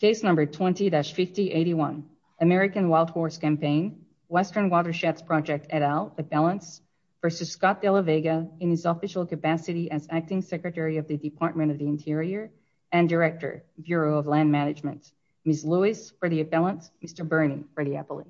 Case number 20-5081, American Wild Horse Campaign, Western Watersheds Project et al, appellants, versus Scott de la Vega in his official capacity as Acting Secretary of the Department of the Interior and Director, Bureau of Land Management. Ms. Lewis for the appellants, Mr. Bernie for the appellate.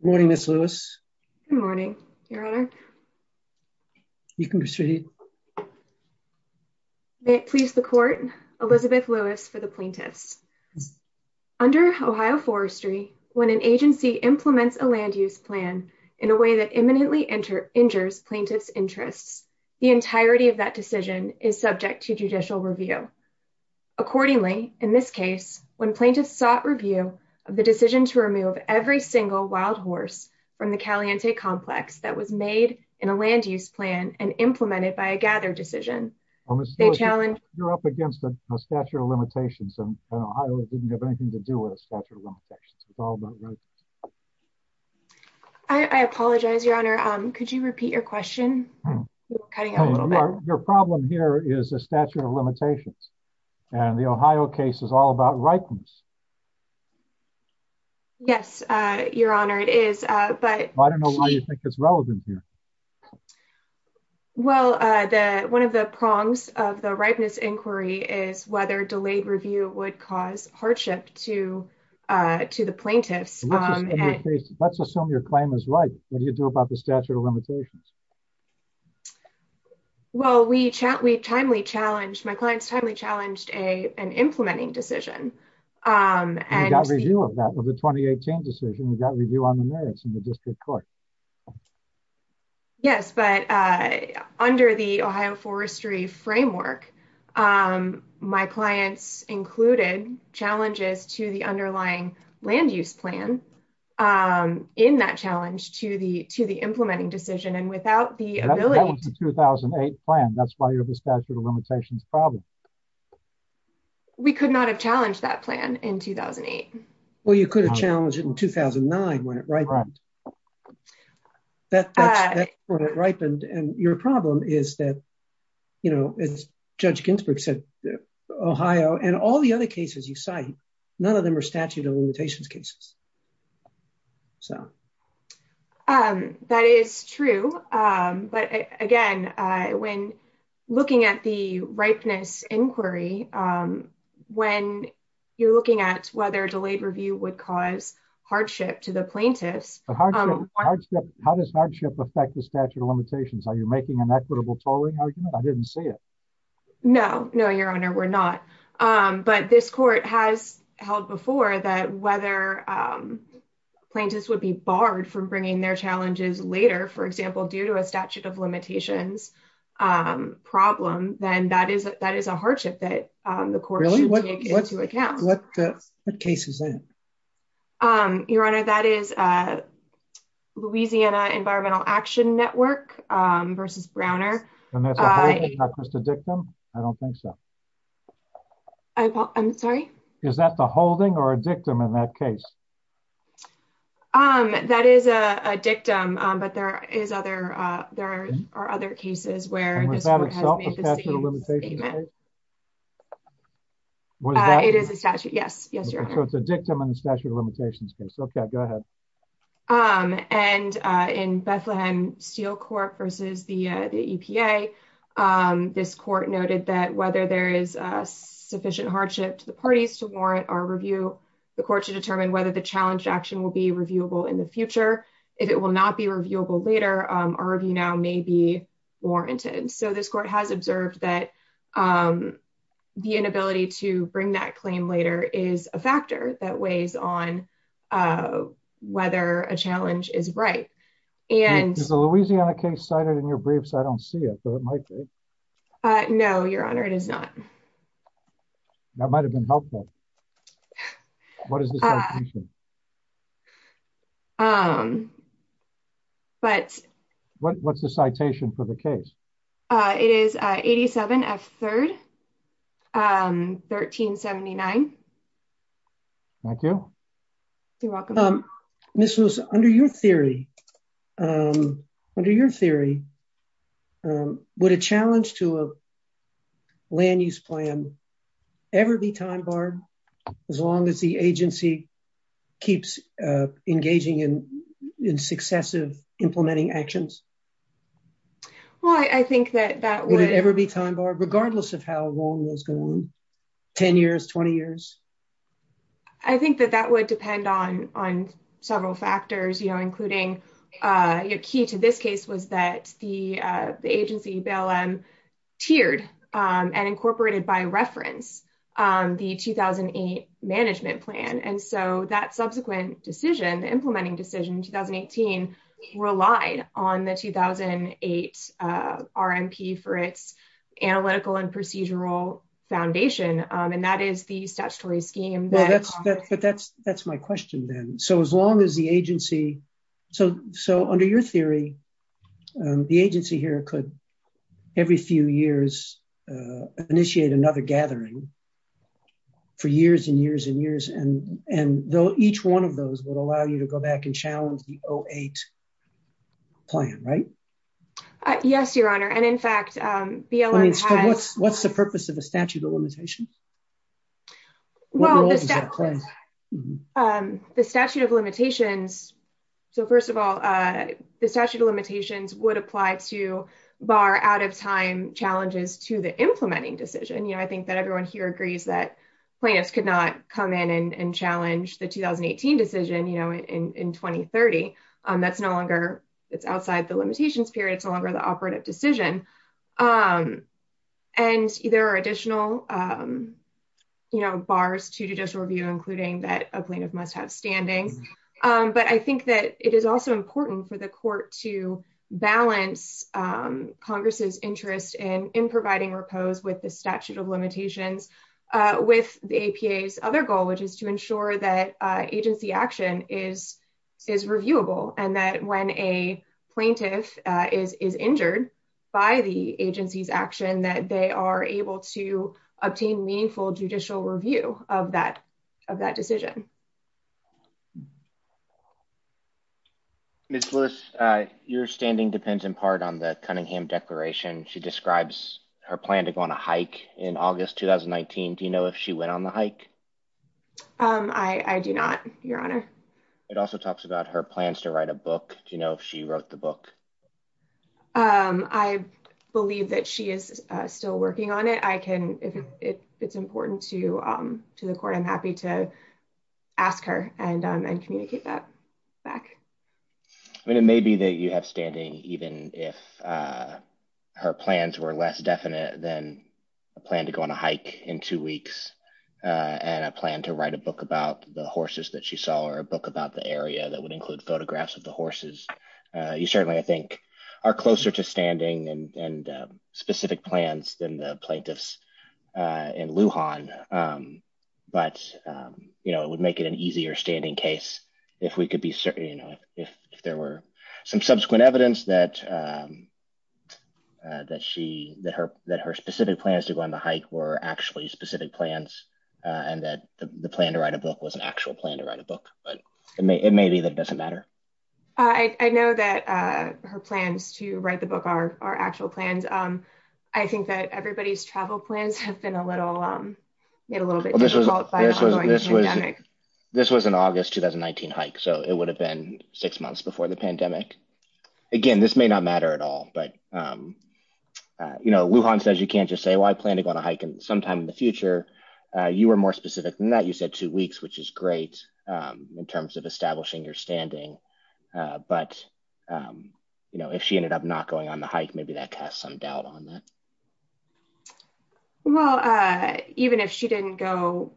Good morning, Ms. Lewis. Good morning, Your Honor. You can proceed. May it please the Court, Elizabeth Lewis for the plaintiffs. Under Ohio Forestry, when an agency implements a land use plan in a way that imminently injures plaintiffs' interests, the entirety of that decision is subject to judicial review. Accordingly, in this case, when plaintiffs sought review of the decision to remove every single wild horse from the Caliente Complex that was made in a land use plan and implemented by a gather decision, they challenged— Ms. Lewis, you're up against a stature of limitations, and Ohio didn't have anything to do with a stature of limitations. It's all about rights. I apologize, Your Honor. Could you repeat your question? You're cutting out a little bit. Your problem here is a stature of limitations, and the Ohio case is all about rightness. Yes, Your Honor, it is, but— I don't know why you think it's relevant here. Well, one of the prongs of the rightness inquiry is whether delayed review would cause hardship to the plaintiffs. Let's assume your claim is right. What do you do about the stature of limitations? Well, we timely challenged—my clients timely challenged an implementing decision. You got review of that, of the 2018 decision. You got review on the merits in the district court. Yes, but under the Ohio forestry framework, my clients included challenges to the underlying land use plan in that challenge to the implementing decision, and without the ability— That was the 2008 plan. That's why you have a stature of limitations problem. We could not have challenged that plan in 2008. Well, you could have challenged it in 2009 when it ripened. That's when it ripened, and your problem is that, you know, as Judge Ginsburg said, Ohio and all the other cases you cite, none of them are statute of limitations cases. That is true, but again, when looking at the rightness inquiry, when you're looking at whether delayed review would cause hardship to the plaintiffs— How does hardship affect the statute of limitations? Are you making an equitable tolling argument? I didn't see it. No, no, Your Honor, we're not, but this court has held before that whether plaintiffs would be barred from bringing their challenges later, for example, due to a statute of limitations problem, then that is a hardship that the court should take into account. What case is that? Your Honor, that is Louisiana Environmental Action Network versus Browner. And that's a holding, not just a dictum? I don't think so. I'm sorry? Is that the holding or a dictum in that case? That is a dictum, but there are other cases where this court has made the same statement. And was that itself a statute of limitations case? It is a statute, yes. Yes, Your Honor. So it's a dictum in the statute of limitations case. Okay, go ahead. And in Bethlehem Steel Court versus the EPA, this court noted that whether there is sufficient hardship to the parties to warrant our review, the court should determine whether the challenge action will be reviewable in the future. If it will not be reviewable later, our review now may be warranted. So this court has observed that the inability to bring that claim later is a factor that weighs on whether a challenge is right. Is the Louisiana case cited in your briefs? I don't see it, but it might be. No, Your Honor, it is not. That might have been helpful. What is the citation? What's the citation for the case? It is 87 F 3rd, 1379. Thank you. You're welcome. Ms. Lewis, under your theory, would a challenge to a land use plan ever be time barred as long as the agency keeps engaging in successive implementing actions? Well, I think that that would ever be time barred, regardless of how long those go on, 10 years, 20 years. I think that that would depend on several factors, including your key to this case was that the agency bail-in tiered and incorporated by reference the 2008 management plan. And so that subsequent decision, implementing decision in 2018 relied on the 2008 RMP for its analytical and procedural foundation. And that is the statutory scheme. But that's my question then. So as long as the agency, so under your theory, the agency here could every few years initiate another gathering for years and years and years. And though each one of those would allow you to go back and challenge the 08 plan, right? Yes, your honor. And in fact, BLM has... What's the purpose of the statute of limitations? The statute of limitations. So first of all, the statute of limitations would apply to bar out of time challenges to the implementing decision. I think that everyone here agrees that plaintiffs could not come in and challenge the 2018 decision in 2030. That's no longer... It's outside the limitations period. It's no longer the operative decision. And there are additional bars to judicial review, including that a plaintiff must have standing. But I think that it is also important for the court to balance Congress's interest in providing repose with the statute of limitations with the APA's other goal, which is to ensure that agency action is reviewable. And that when a plaintiff is injured by the agency's action, that they are able to obtain meaningful judicial review of that decision. Ms. Lewis, your standing depends in part on the Cunningham Declaration. She describes her plan to go on a hike in August 2019. Do you know if she went on the hike? I do not, your honor. It also talks about her plans to write a book. Do you know if she wrote the book? I believe that she is still working on it. If it's important to the court, I'm happy to ask her and communicate that back. I mean, it may be that you have standing even if her plans were less definite than a plan to go on a hike in two weeks and a plan to write a book about the horses that she saw or a book about the area that would include photographs of the horses. You certainly, I think, are closer to standing and specific plans than the plaintiffs in Lujan. But, you know, it would make it an easier standing case if we could be certain, you know, if there were some subsequent evidence that her specific plans to go on the hike were actually specific plans and that the plan to write a book was an actual plan to write a book. But it may be that it doesn't matter. I know that her plans to write the book are actual plans. I think that everybody's This was an August 2019 hike, so it would have been six months before the pandemic. Again, this may not matter at all, but, you know, Lujan says you can't just say, well, I plan to go on a hike sometime in the future. You were more specific than that. You said two weeks, which is great in terms of establishing your standing. But, you know, if she ended up not going on the hike, maybe that casts some doubt on that. Well, even if she didn't go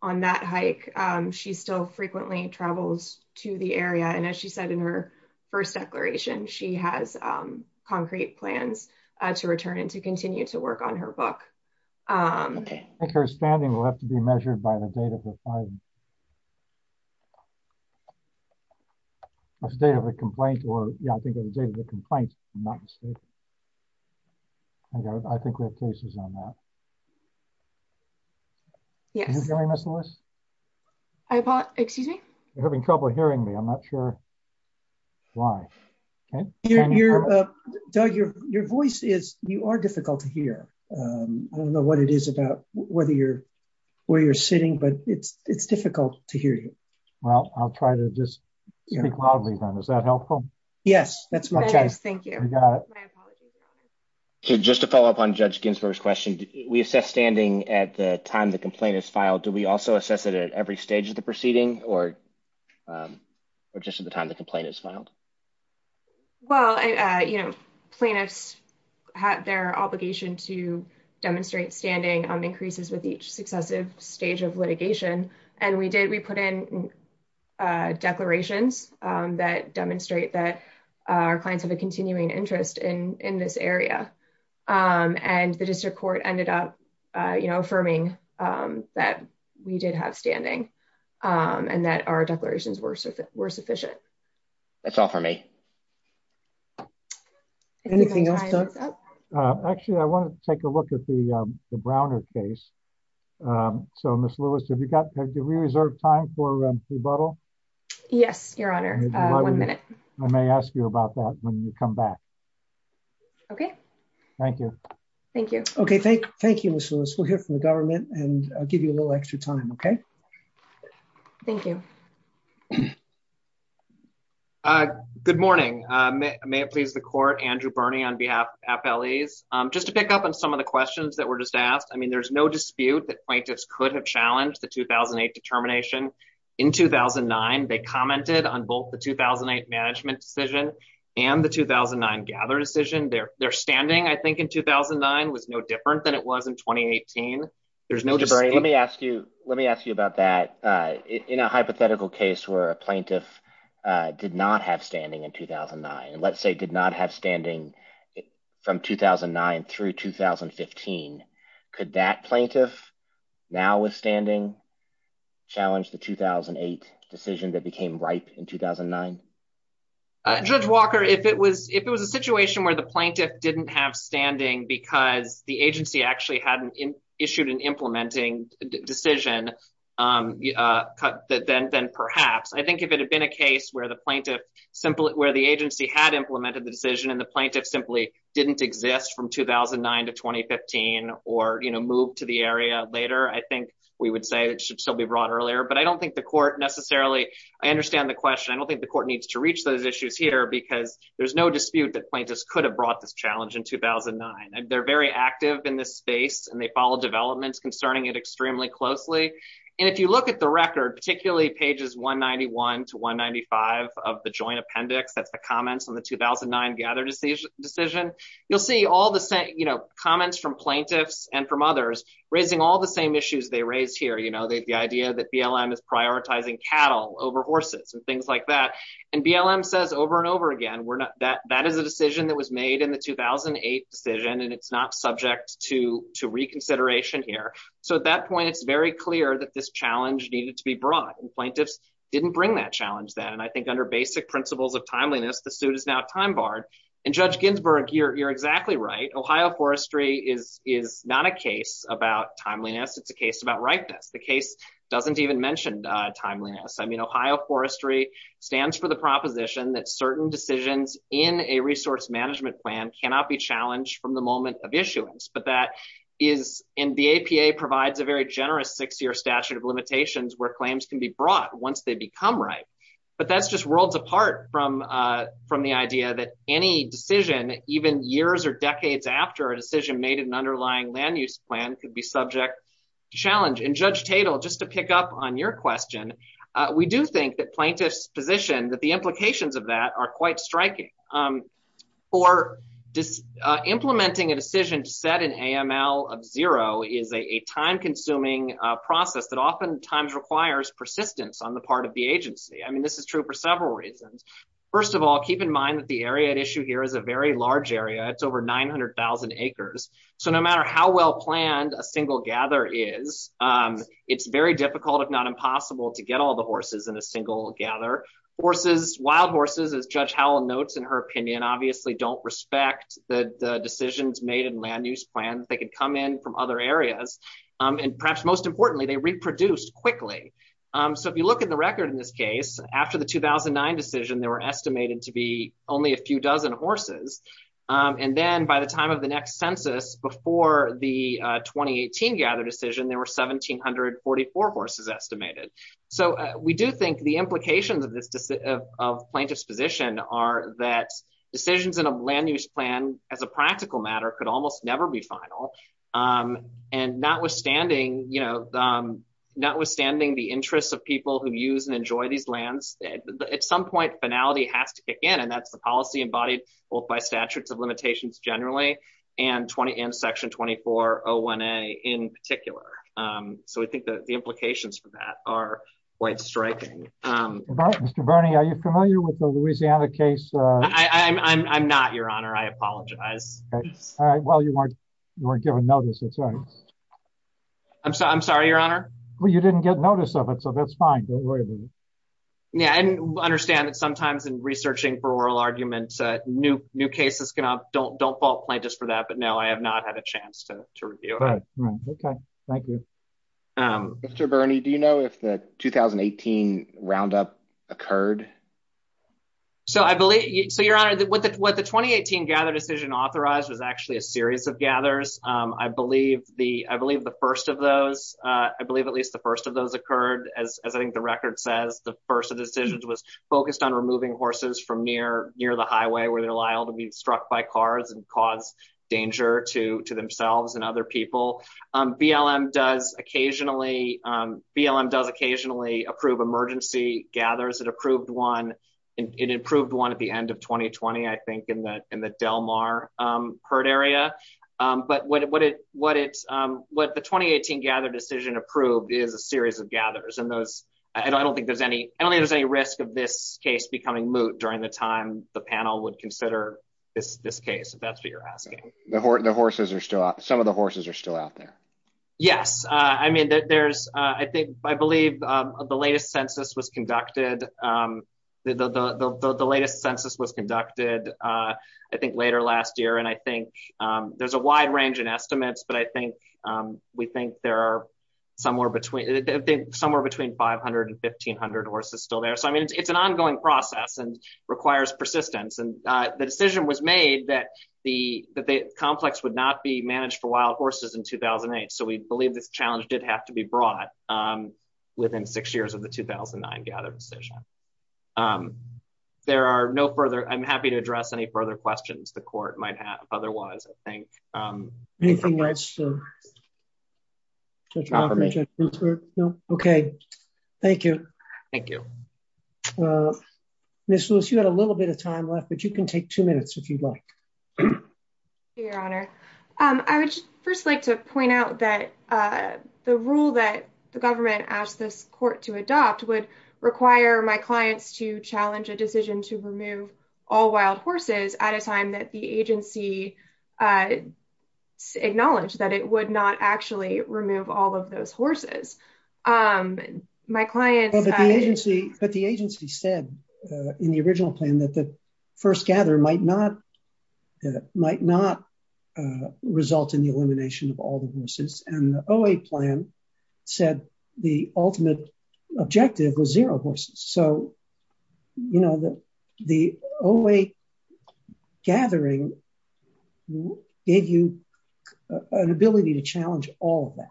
on that hike, she still frequently travels to the area. And as she said in her first declaration, she has concrete plans to return and to continue to work on her book. I think her standing will have to be measured by the date of the complaint. Okay. I think we have cases on that. Yes. I apologize. Excuse me. You're having trouble hearing me. I'm not sure why. Doug, your voice is, you are difficult to hear. I don't know what it is about whether you're, where you're sitting, but it's difficult to hear you. Well, I'll try to just speak loudly then. Is that helpful? Yes, that's okay. Thank you. Okay. Just to follow up on Judge Ginsburg's question, we assess standing at the time the complaint is filed. Do we also assess it at every stage of the proceeding or just at the time the complaint is filed? Well, you know, plaintiffs have their obligation to demonstrate standing increases with each successive stage of litigation. And we did, we put in declarations that demonstrate that our clients have a continuing interest in this area. And the district court ended up, you know, affirming that we did have standing and that our declarations were sufficient. That's all for me. Actually, I want to take a look at the Browner case. So Ms. Lewis, have you got, have you reserved time for rebuttal? Yes, your honor. One minute. I may ask you about that when you come back. Okay. Thank you. Thank you. Okay. Thank you, Ms. Lewis. We'll hear from the government and I'll give you a little extra time. Okay. Thank you. Good morning. May it please the court, Andrew Bernie on behalf of FLEs. Just to pick up on some of the questions that were just asked. I mean, there's no dispute that plaintiffs could have termination in 2009. They commented on both the 2008 management decision and the 2009 gather decision there they're standing. I think in 2009 was no different than it was in 2018. There's no, let me ask you, let me ask you about that. In a hypothetical case where a plaintiff did not have standing in 2009, let's say did not have standing from 2009 through 2015. Could that plaintiff now withstanding challenge the 2008 decision that became ripe in 2009? Judge Walker, if it was, if it was a situation where the plaintiff didn't have standing because the agency actually hadn't issued an implementing decision then perhaps, I think if it had been a case where the plaintiff simply, where the agency had implemented the decision and the plaintiff simply didn't exist from 2009 to 2015 or move to the area later, I think we would say it should still be brought earlier. But I don't think the court necessarily, I understand the question. I don't think the court needs to reach those issues here because there's no dispute that plaintiffs could have brought this challenge in 2009. They're very active in this space and they follow developments concerning it extremely closely. And if you look at the record, particularly pages 191 to 195 of the joint appendix, that's the comments on the 2009 gather decision. You'll see all the same, you know, comments from plaintiffs and from others raising all the same issues they raised here. You know, the idea that BLM is prioritizing cattle over horses and things like that. And BLM says over and over again, we're not, that, that is a decision that was made in the 2008 decision and it's not subject to, to reconsideration here. So at that point, it's very clear that this challenge needed to be brought and plaintiffs didn't bring that challenge then. And I think under basic principles of timeliness, the suit is now time barred. And Judge Ginsburg, you're, you're exactly right. Ohio forestry is, is not a case about timeliness. It's a case about ripeness. The case doesn't even mention timeliness. I mean, Ohio forestry stands for the proposition that certain decisions in a resource management plan cannot be challenged from the moment of issuance. But that is, and the APA provides a very generous six-year statute of limitations where claims can be brought once they become right. But that's just worlds apart from, from the idea that any decision, even years or decades after a decision made in an underlying land use plan could be subject to challenge. And Judge Tatel, just to pick up on your question, we do think that plaintiff's position, that the implications of that are quite striking. For implementing a decision to set an AML of zero is a time-consuming process that oftentimes requires persistence on the part of the agency. I mean, this is true for several reasons. First of all, keep in mind that the area at issue here is a very large area. It's over 900,000 acres. So no matter how well planned a single gather is, it's very difficult, if not difficult, to get a decision to set an AML of zero. And so we do think that the implications of this decision, and Judge Tatel notes in her opinion, obviously don't respect that the decisions made in land use plans, they could come in from other areas. And perhaps most importantly, they reproduced quickly. So if you look at the record in this case, after the 2009 decision, they were estimated to be only a few dozen horses. And then by the time of the next census, before the 2018 gather decision, there were 1,744 horses estimated. So we do think the implications of plaintiff's position are that decisions in a land use plan, as a practical matter, could almost never be final. And notwithstanding, you know, notwithstanding the interests of people who use and enjoy these lands, at some point finality has to kick in. And that's the policy embodied both by statutes of limitations generally, and 20 and section 2401 a in particular. So we think that the implications for that are quite striking. Mr. Bernie, are you familiar with the Louisiana case? I'm not your honor, I apologize. All right. Well, you weren't you weren't given notice. That's right. I'm sorry, I'm sorry, Your Honor. Well, you didn't get notice of it. So that's fine. Yeah, and understand that sometimes in researching for oral arguments, new new cases can don't don't fall play just for that. But no, I have not had a chance to review. Okay, thank you. Mr. Bernie, do you know if the 2018 roundup occurred? So I believe so Your Honor, that what the what the 2018 gather decision authorized was actually a series of gathers. I believe the I believe the first of those, I believe at least the first of those occurred, as I think the record says, the first of decisions was focused on removing horses from near near the highway where they're liable to be struck by cars and cause danger to to themselves and other people. BLM does occasionally BLM does occasionally approve emergency gathers that approved one. It improved one at the end of 2020, I think in the in the Del Mar herd area. But what it what it's what the 2018 gather decision approved is a series of gathers and those I don't think there's any I don't think there's any risk of this case becoming moot during the time the panel would consider this this case if that's what you're asking. The horses are still out some of the horses are still out there. Yes, I mean, there's, I think I believe the latest census was conducted. The latest census was conducted, I think later last year. And I think there's a wide range of estimates. But I horses still there. So I mean, it's an ongoing process and requires persistence. And the decision was made that the that the complex would not be managed for wild horses in 2008. So we believe this challenge did have to be brought within six years of the 2009 gather decision. There are no further I'm happy to address any further questions the court might have. Otherwise, I think anything that's okay. Thank you. Thank you. Miss Lewis, you had a little bit of time left, but you can take two minutes if you'd like. Your Honor, I would first like to point out that the rule that the government asked this court to adopt would require my clients to challenge a decision to remove all wild horses at a time the agency acknowledged that it would not actually remove all of those horses. My client... But the agency said in the original plan that the first gather might not result in the elimination of all the horses. And the OA plan said the ultimate objective was zero horses. So, you know, the OA gathering gave you an ability to challenge all of that.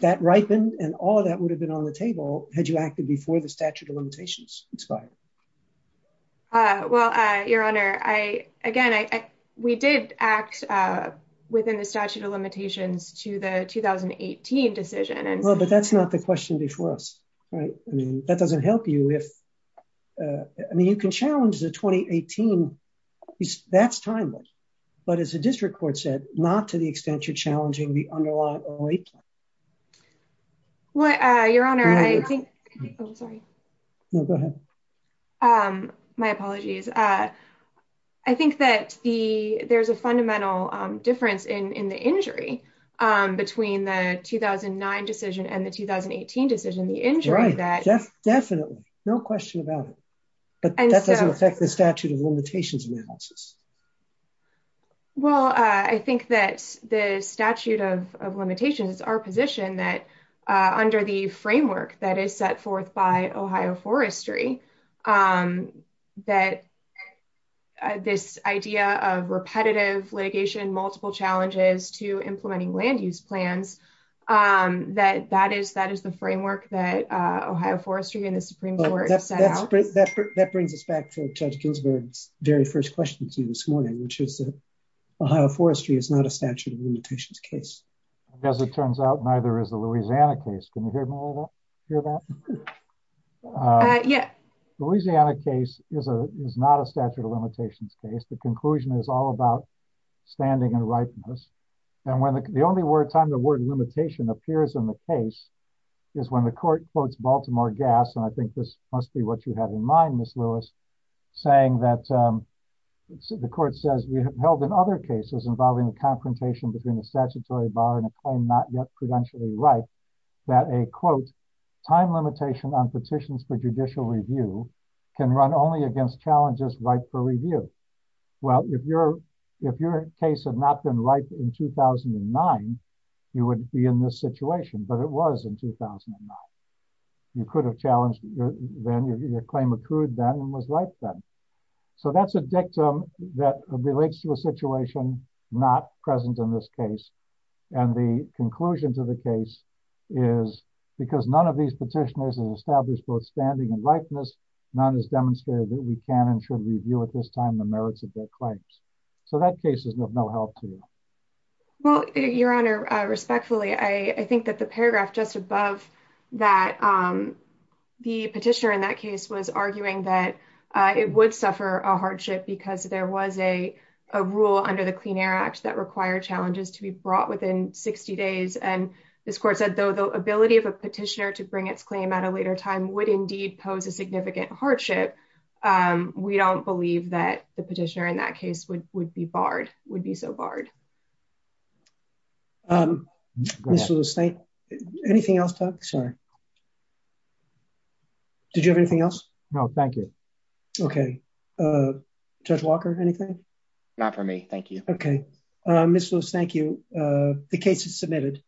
That ripened, and all that would have been on the table had you acted before the statute of limitations expired. Well, Your Honor, I, again, I, we did act within the statute of limitations to the 2018 decision and... Well, but that's not the question before us, right? I mean, that doesn't help you if... I mean, you can challenge the 2018. That's timeless. But as the district court said, not to the extent you're challenging the underlying OA plan. Well, Your Honor, I think... Oh, sorry. No, go ahead. My apologies. I think that the, there's a fundamental difference in the injury between the 2009 decision and the 2018 decision. The injury that... Definitely. No question about it. But that doesn't affect the statute of limitations analysis. Well, I think that the statute of limitations, it's our position that under the framework that is set forth by Ohio Forestry, that this idea of repetitive litigation, multiple challenges to implementing land use plans, that that is the framework that Ohio Forestry and the Supreme Court set out. That brings us back to Judge Ginsburg's very first question to you this morning, which is that Ohio Forestry is not a statute of limitations case. As it turns out, neither is the Louisiana case. Can you hear me a little bit? Hear that? Yeah. Louisiana case is not a statute of limitations case. The conclusion is all about standing and ripeness. The only time the word limitation appears in the case is when the court quotes Baltimore Gas, and I think this must be what you had in mind, Ms. Lewis, saying that the court says, we have held in other cases involving the confrontation between the statutory bar and a claim not yet prudentially right, that a, quote, time limitation on petitions for judicial review can run only against challenges right for review. Well, if your case had not been right in 2009, you wouldn't be in this situation, but it was in 2009. You could have challenged then, your claim accrued then and was right then. So that's a dictum that relates to a situation not present in this case. And the conclusion to the case is because none of these petitioners have established both standing and ripeness, none has demonstrated that we can and should review at this time the merits of their claims. So that case is of no help to you. Well, your honor, respectfully, I think that the paragraph just above that the petitioner in that case was arguing that it would suffer a hardship because there was a rule under the Clean Air Act that required challenges to be brought within 60 days. And this court said, though, the ability of a petitioner to bring its claim at a later time would indeed pose a significant hardship. We don't believe that the petitioner in that case would be barred, would be so barred. Anything else, Doug? Sorry. Did you have anything else? No, thank you. Okay. Judge Walker, anything? Not for me. Thank you. Okay. Ms. Lewis, thank you. The case is submitted.